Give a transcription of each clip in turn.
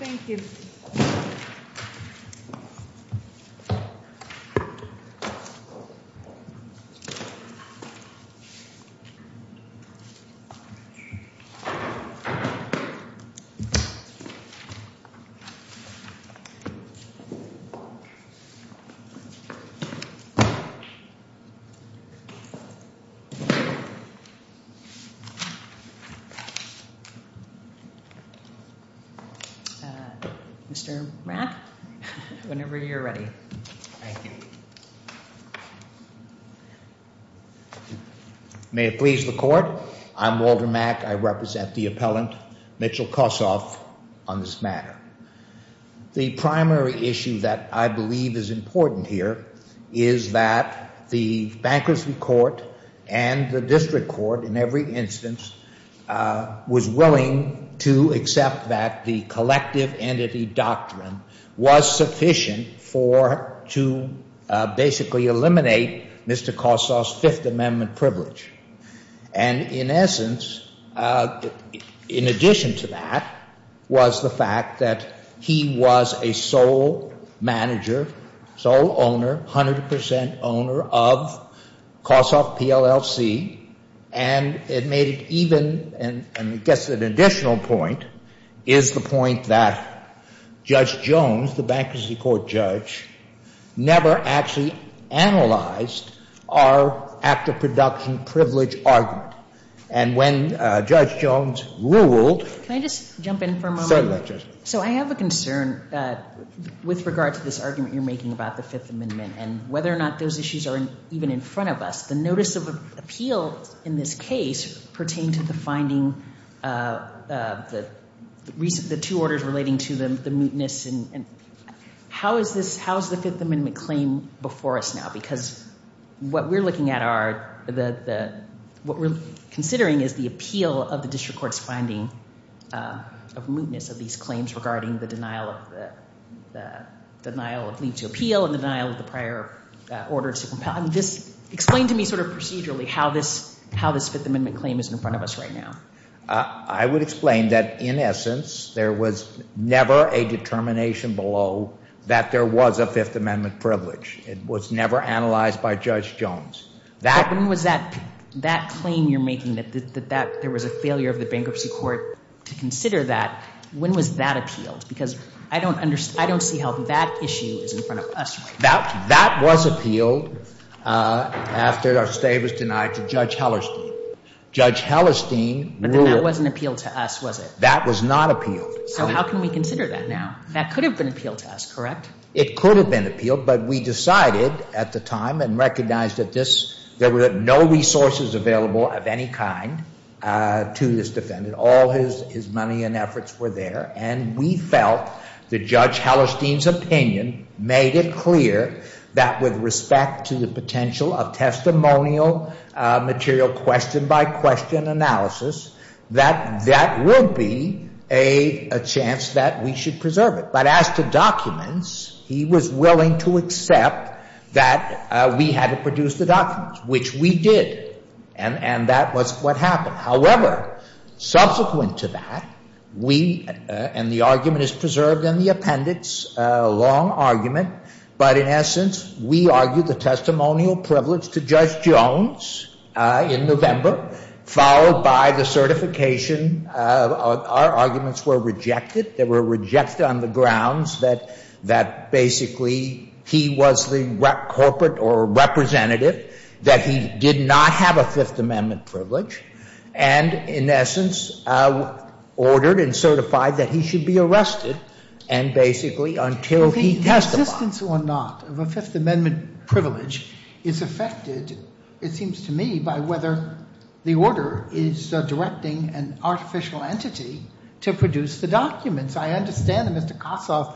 Thank you. Mr. Mack, whenever you're ready. Thank you. May it please the Court, I'm Walter Mack. I represent the appellant, Mitchell Kossoff, on this matter. The primary issue that I believe is important here is that the bankruptcy court and the district court in every instance was willing to accept that the collective entity doctrine was sufficient to basically eliminate Mr. Kossoff's Fifth Amendment privilege. And in essence, in addition to that, was the fact that he was a sole manager, sole owner, 100% owner of Kossoff PLLC. And it made it even, and I guess an additional point, is the point that Judge Jones, the bankruptcy court judge, never actually analyzed our act of production privilege argument. And when Judge Jones ruled — Can I just jump in for a moment? Certainly, Judge. So I have a concern with regard to this argument you're making about the Fifth Amendment and whether or not those issues are even in front of us. The notice of appeal in this case pertained to the finding, the two orders relating to the mootness. How is the Fifth Amendment claim before us now? Because what we're looking at, what we're considering is the appeal of the district court's finding of mootness of these claims regarding the denial of leave to appeal and denial of the prior order to compel. Explain to me sort of procedurally how this Fifth Amendment claim is in front of us right now. I would explain that, in essence, there was never a determination below that there was a Fifth Amendment privilege. It was never analyzed by Judge Jones. When was that claim you're making, that there was a failure of the bankruptcy court to consider that, when was that appealed? Because I don't see how that issue is in front of us right now. That was appealed after our state was denied to Judge Hellerstein. Judge Hellerstein ruled. But then that wasn't appealed to us, was it? That was not appealed. So how can we consider that now? That could have been appealed to us, correct? It could have been appealed, but we decided at the time and recognized that there were no resources available of any kind to this defendant. That all his money and efforts were there. And we felt that Judge Hellerstein's opinion made it clear that, with respect to the potential of testimonial material question-by-question analysis, that that would be a chance that we should preserve it. But as to documents, he was willing to accept that we had to produce the documents, which we did. And that was what happened. However, subsequent to that, we, and the argument is preserved in the appendix, a long argument. But in essence, we argued the testimonial privilege to Judge Jones in November, followed by the certification. Our arguments were rejected. They were rejected on the grounds that basically he was the corporate or representative, that he did not have a Fifth Amendment privilege, and, in essence, ordered and certified that he should be arrested, and basically until he testified. The existence or not of a Fifth Amendment privilege is affected, it seems to me, by whether the order is directing an artificial entity to produce the documents. I understand that Mr. Kossoff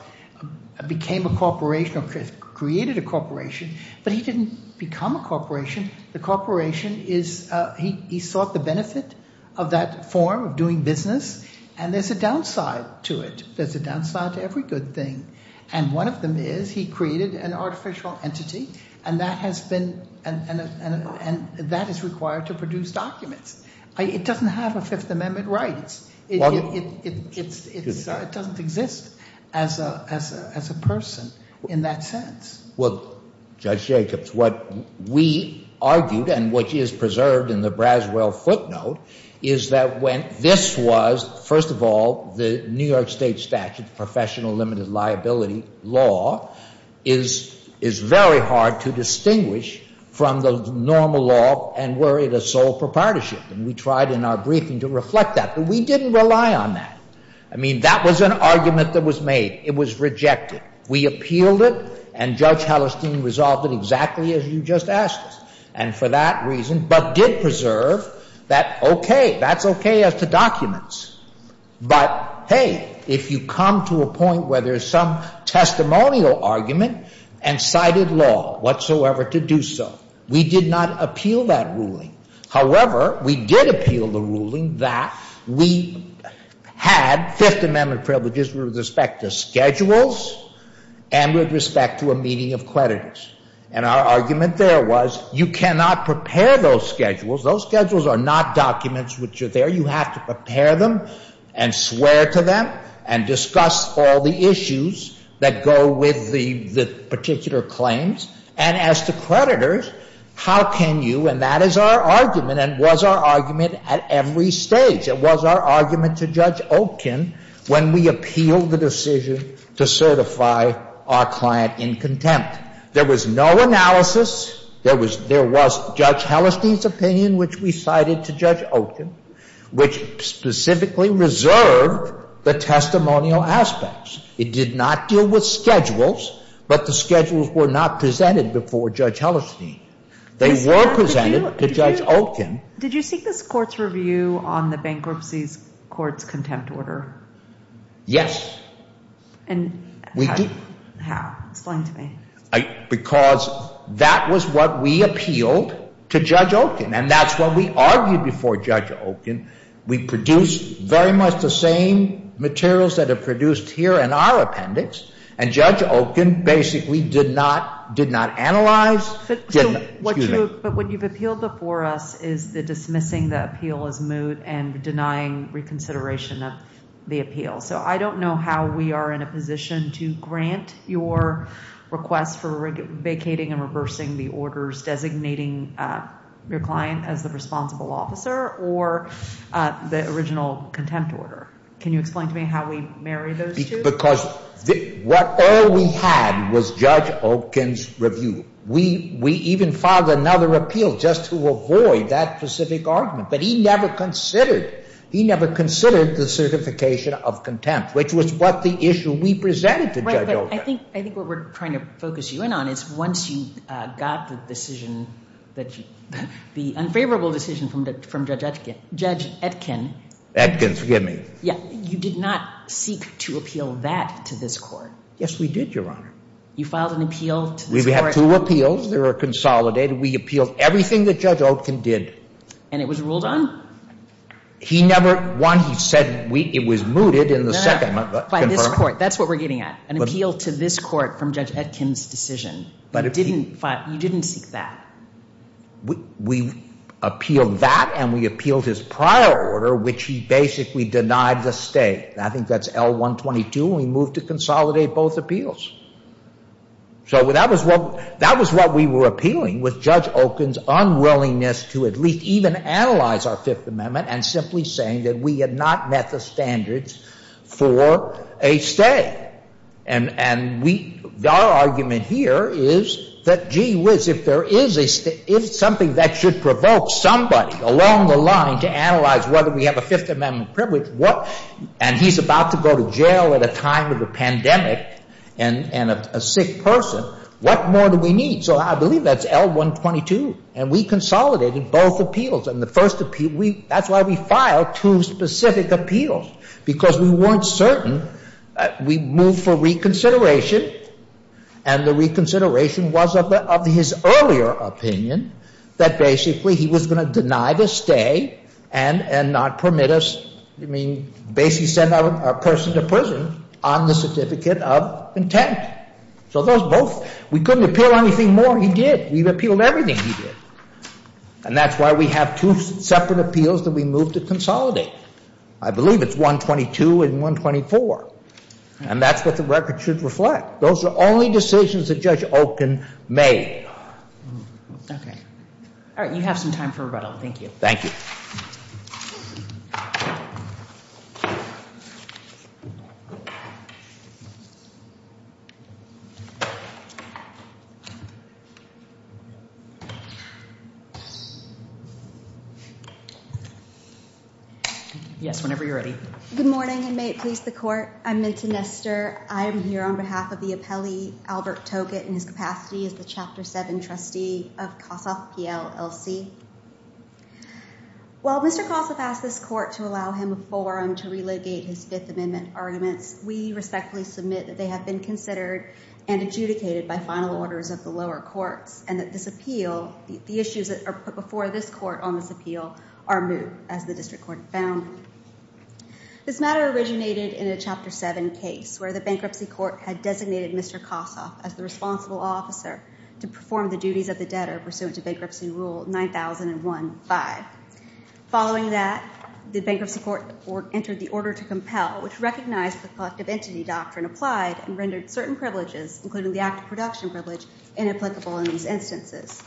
became a corporation or created a corporation, but he didn't become a corporation. The corporation is, he sought the benefit of that form of doing business, and there's a downside to it. There's a downside to every good thing. And one of them is he created an artificial entity, and that has been, and that is required to produce documents. It doesn't have a Fifth Amendment right. It doesn't exist as a person in that sense. Well, Judge Jacobs, what we argued, and which is preserved in the Braswell footnote, is that when this was, first of all, the New York State statute, professional limited liability law, is very hard to distinguish from the normal law, and were it a sole proprietorship. And we tried in our briefing to reflect that, but we didn't rely on that. I mean, that was an argument that was made. It was rejected. We appealed it, and Judge Hallerstein resolved it exactly as you just asked us, and for that reason, but did preserve that, okay, that's okay as to documents. But, hey, if you come to a point where there's some testimonial argument and cited law whatsoever to do so, we did not appeal that ruling. However, we did appeal the ruling that we had Fifth Amendment privileges with respect to schedules and with respect to a meeting of creditors. And our argument there was you cannot prepare those schedules. Those schedules are not documents which are there. You have to prepare them and swear to them and discuss all the issues that go with the particular claims. And as to creditors, how can you, and that is our argument and was our argument at every stage, it was our argument to Judge Olkin when we appealed the decision to certify our client in contempt. There was no analysis. There was Judge Hallerstein's opinion, which we cited to Judge Olkin, which specifically reserved the testimonial aspects. It did not deal with schedules, but the schedules were not presented before Judge Hallerstein. They were presented to Judge Olkin. Did you seek this court's review on the bankruptcy court's contempt order? Yes. And how? Explain to me. Because that was what we appealed to Judge Olkin, and that's what we argued before Judge Olkin. We produced very much the same materials that are produced here in our appendix, and Judge Olkin basically did not analyze. But what you've appealed before us is the dismissing the appeal as moot and denying reconsideration of the appeal. So I don't know how we are in a position to grant your request for vacating and reversing the orders designating your client as the responsible officer or the original contempt order. Can you explain to me how we marry those two? Because all we had was Judge Olkin's review. We even filed another appeal just to avoid that specific argument, but he never considered. He never considered the certification of contempt, which was what the issue we presented to Judge Olkin. Right, but I think what we're trying to focus you in on is once you got the decision, the unfavorable decision from Judge Etkin. Etkin, forgive me. Yeah, you did not seek to appeal that to this court. Yes, we did, Your Honor. You filed an appeal to this court. We have two appeals. They were consolidated. We appealed everything that Judge Olkin did. And it was ruled on? He never won. He said it was mooted in the second. No, no, by this court. That's what we're getting at, an appeal to this court from Judge Etkin's decision. But you didn't seek that. We appealed that, and we appealed his prior order, which he basically denied the stay. I think that's L-122. We moved to consolidate both appeals. So that was what we were appealing was Judge Olkin's unwillingness to at least even analyze our Fifth Amendment and simply saying that we had not met the standards for a stay. And our argument here is that, gee whiz, if there is something that should provoke somebody along the line to analyze whether we have a Fifth Amendment privilege and he's about to go to jail at a time of a pandemic and a sick person, what more do we need? So I believe that's L-122. And we consolidated both appeals. That's why we filed two specific appeals, because we weren't certain. We moved for reconsideration, and the reconsideration was of his earlier opinion that basically he was going to deny the stay and not permit us. I mean, basically send our person to prison on the certificate of intent. So those both. We couldn't appeal anything more. He did. We appealed everything he did. And that's why we have two separate appeals that we moved to consolidate. I believe it's L-122 and L-124. And that's what the record should reflect. Those are only decisions that Judge Olkin made. Okay. All right. You have some time for rebuttal. Thank you. Thank you. Yes, whenever you're ready. Good morning, and may it please the court. I'm Minta Nestor. I am here on behalf of the appellee, Albert Toket, in his capacity as the Chapter 7 trustee of Kossoff PLLC. While Mr. Kossoff asked this court to allow him a forum to relocate his Fifth Amendment arguments, we respectfully submit that they have been considered and adjudicated by final orders of the lower courts and that this appeal, the issues that are put before this court on this appeal, are moot, as the district court found. This matter originated in a Chapter 7 case where the bankruptcy court had designated Mr. Kossoff as the responsible officer to perform the duties of the debtor pursuant to Bankruptcy Rule 9001-5. Following that, the bankruptcy court entered the order to compel, which recognized the collective entity doctrine applied and rendered certain privileges, including the act of production privilege, inapplicable in these instances.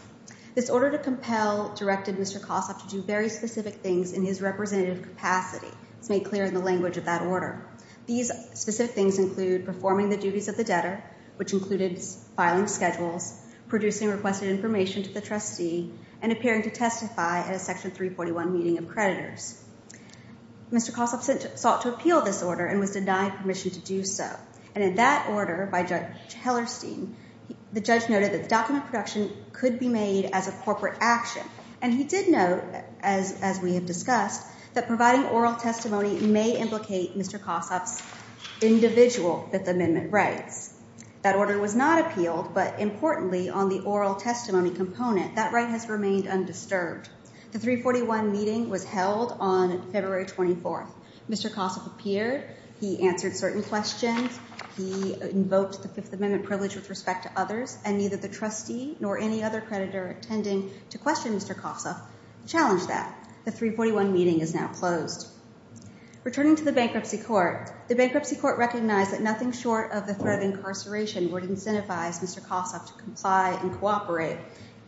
This order to compel directed Mr. Kossoff to do very specific things in his representative capacity. It's made clear in the language of that order. These specific things include performing the duties of the debtor, which included filing schedules, producing requested information to the trustee, and appearing to testify at a Section 341 meeting of creditors. Mr. Kossoff sought to appeal this order and was denied permission to do so. And in that order by Judge Hellerstein, the judge noted that document production could be made as a corporate action. And he did note, as we have discussed, that providing oral testimony may implicate Mr. Kossoff's individual Fifth Amendment rights. That order was not appealed, but importantly, on the oral testimony component, that right has remained undisturbed. The 341 meeting was held on February 24th. Mr. Kossoff appeared. He answered certain questions. He invoked the Fifth Amendment privilege with respect to others, and neither the trustee nor any other creditor attending to question Mr. Kossoff challenged that. The 341 meeting is now closed. Returning to the Bankruptcy Court, the Bankruptcy Court recognized that nothing short of the threat of incarceration would incentivize Mr. Kossoff to comply and cooperate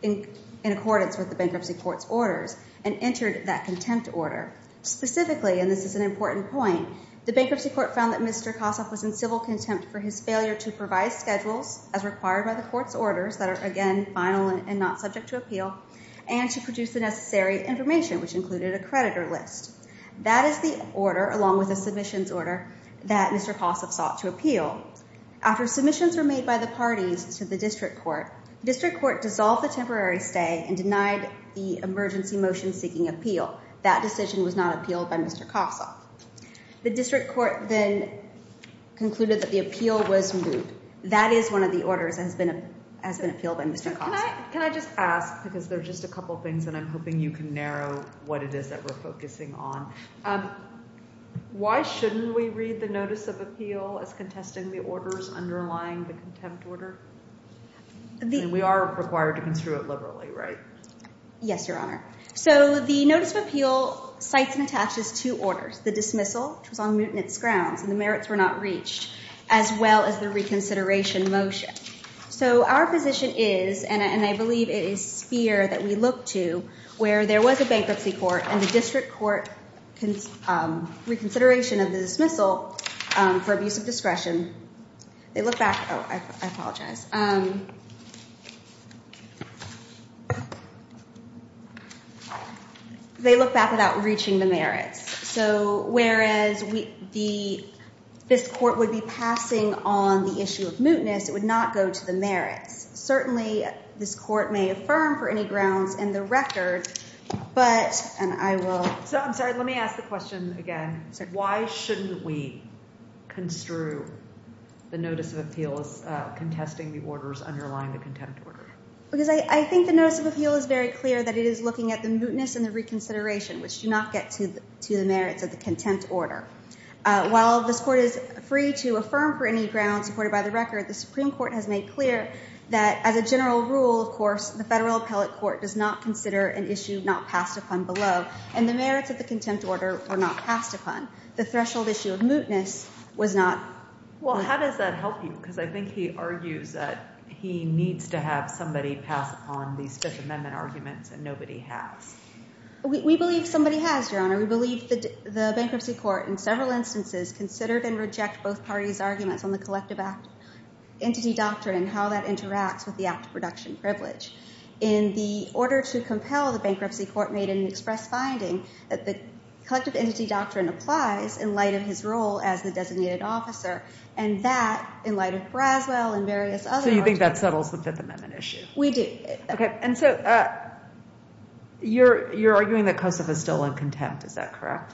in accordance with the Bankruptcy Court's orders and entered that contempt order. Specifically, and this is an important point, the Bankruptcy Court found that Mr. Kossoff was in civil contempt for his failure to provide schedules as required by the Court's orders that are, again, final and not subject to appeal, and to produce the necessary information, which included a creditor list. That is the order, along with the submissions order, that Mr. Kossoff sought to appeal. After submissions were made by the parties to the District Court, the District Court dissolved the temporary stay and denied the emergency motion seeking appeal. That decision was not appealed by Mr. Kossoff. The District Court then concluded that the appeal was moved. That is one of the orders that has been appealed by Mr. Kossoff. Can I just ask, because there are just a couple of things and I'm hoping you can narrow what it is that we're focusing on. Why shouldn't we read the notice of appeal as contesting the orders underlying the contempt order? I mean, we are required to construe it liberally, right? Yes, Your Honor. So the notice of appeal cites and attaches two orders, the dismissal, which was on mutinous grounds, and the merits were not reached, as well as the reconsideration motion. So our position is, and I believe it is here that we look to, where there was a bankruptcy court and the District Court reconsideration of the dismissal for abuse of discretion. Oh, I apologize. They look back without reaching the merits. So whereas this court would be passing on the issue of mootness, it would not go to the merits. Certainly this court may affirm for any grounds in the record, but I will. I'm sorry, let me ask the question again. Why shouldn't we construe the notice of appeal as contesting the orders underlying the contempt order? Because I think the notice of appeal is very clear that it is looking at the mootness and the reconsideration, which do not get to the merits of the contempt order. While this court is free to affirm for any grounds supported by the record, the Supreme Court has made clear that, as a general rule, of course, the federal appellate court does not consider an issue not passed upon below, and the merits of the contempt order were not passed upon. The threshold issue of mootness was not. Well, how does that help you? Because I think he argues that he needs to have somebody pass upon these Fifth Amendment arguments, and nobody has. We believe somebody has, Your Honor. We believe the bankruptcy court in several instances considered and rejected both parties' arguments on the collective act entity doctrine and how that interacts with the act of production privilege. In the order to compel, the bankruptcy court made an express finding that the collective entity doctrine applies in light of his role as the designated officer, and that, in light of Braswell and various other orders. So you think that settles the Fifth Amendment issue? We do. Okay. And so you're arguing that Kosov is still in contempt. Is that correct?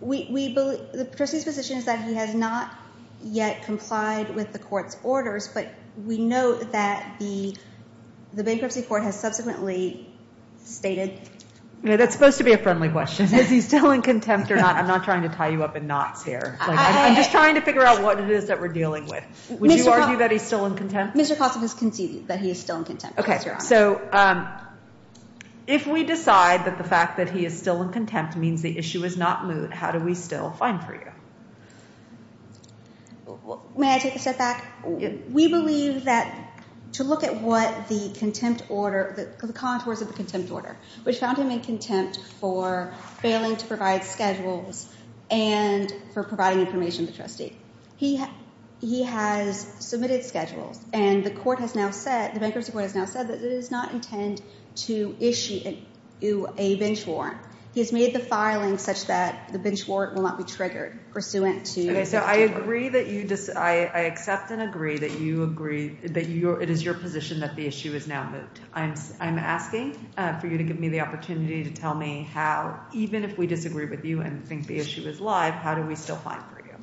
We believe the trustee's position is that he has not yet complied with the court's orders, but we note that the bankruptcy court has subsequently stated. That's supposed to be a friendly question. Is he still in contempt or not? I'm not trying to tie you up in knots here. I'm just trying to figure out what it is that we're dealing with. Would you argue that he's still in contempt? Mr. Kosov has conceded that he is still in contempt, Your Honor. Okay. So if we decide that the fact that he is still in contempt means the issue is not moot, how do we still find freedom? May I take a step back? We believe that to look at what the contempt order, the contours of the contempt order, which found him in contempt for failing to provide schedules and for providing information to the trustee. He has submitted schedules, and the bankruptcy court has now said that it does not intend to issue a bench warrant. He has made the filing such that the bench warrant will not be triggered pursuant to the Fifth Amendment. Okay. So I agree that you – I accept and agree that you agree – that it is your position that the issue is now moot. I'm asking for you to give me the opportunity to tell me how, even if we disagree with you and think the issue is live, how do we still find freedom?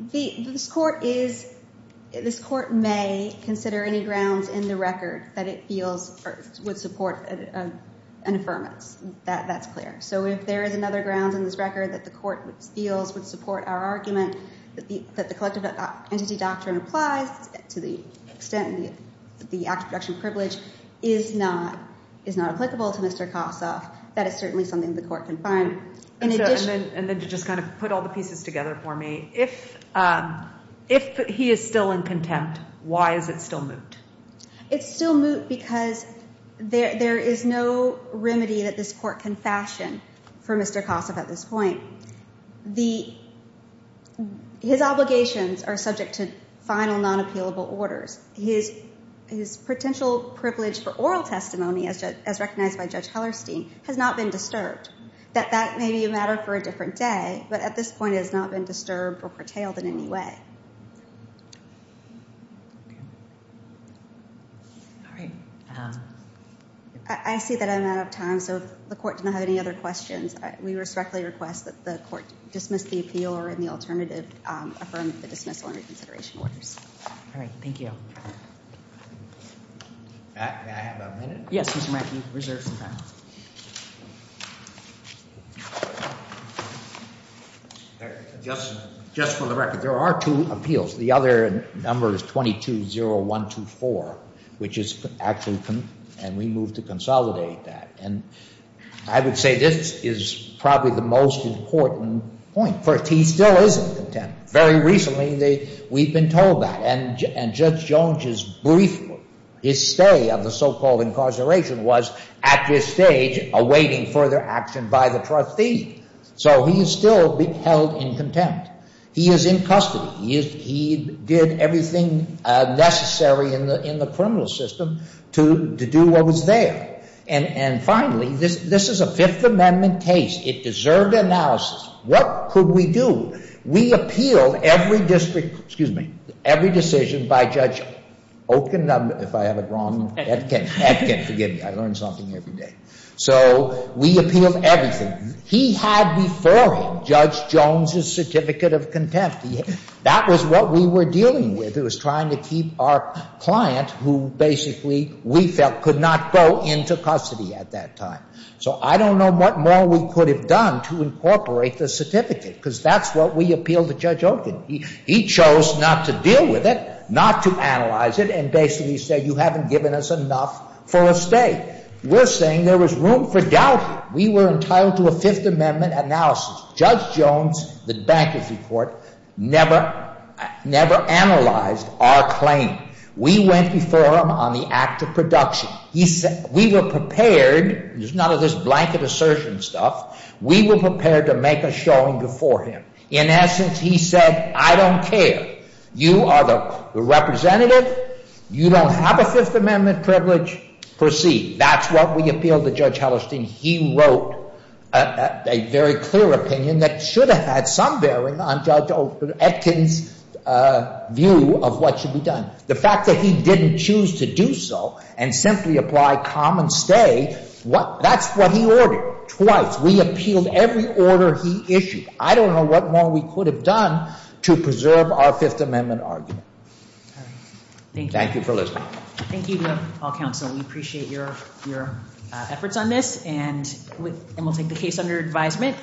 This court is – this court may consider any grounds in the record that it feels would support an affirmance. That's clear. So if there is another ground in this record that the court feels would support our argument that the collective entity doctrine applies to the extent that the act of protection of privilege is not applicable to Mr. Kossoff, that is certainly something the court can find. And then to just kind of put all the pieces together for me, if he is still in contempt, why is it still moot? It's still moot because there is no remedy that this court can fashion for Mr. Kossoff at this point. His obligations are subject to final non-appealable orders. His potential privilege for oral testimony, as recognized by Judge Hellerstein, has not been disturbed. That may be a matter for a different day, but at this point it has not been disturbed or curtailed in any way. All right. I see that I'm out of time, so if the court does not have any other questions, we respectfully request that the court dismiss the appeal or in the alternative affirm the dismissal and reconsideration orders. All right. Thank you. May I have a minute? Yes, Mr. Mackey. Reserve some time. Just for the record, there are two appeals. The other number is 220124, which is actually and we move to consolidate that. I would say this is probably the most important point. First, he still is in contempt. Very recently we've been told that. And Judge Jones' brief, his stay of the so-called incarceration, was at this stage awaiting further action by the trustee. So he is still held in contempt. He is in custody. He did everything necessary in the criminal system to do what was there. And finally, this is a Fifth Amendment case. It deserved analysis. What could we do? We appealed every decision by Judge Oaken, if I have it wrong. Forget it. I learn something every day. So we appealed everything. He had before him Judge Jones' certificate of contempt. That was what we were dealing with. It was trying to keep our client, who basically we felt could not go into custody at that time. So I don't know what more we could have done to incorporate the certificate, because that's what we appealed to Judge Oaken. He chose not to deal with it, not to analyze it, and basically said, you haven't given us enough for a stay. We're saying there was room for doubt. We were entitled to a Fifth Amendment analysis. Judge Jones, the bankruptcy court, never analyzed our claim. We went before him on the act of production. We were prepared. There's none of this blanket assertion stuff. We were prepared to make a showing before him. In essence, he said, I don't care. You are the representative. You don't have a Fifth Amendment privilege. Proceed. That's what we appealed to Judge Hellerstein. He wrote a very clear opinion that should have had some bearing on Judge Etkin's view of what should be done. The fact that he didn't choose to do so and simply apply common stay, that's what he ordered twice. We appealed every order he issued. I don't know what more we could have done to preserve our Fifth Amendment argument. Thank you for listening. Thank you to all counsel. We appreciate your efforts on this, and we'll take the case under advisement.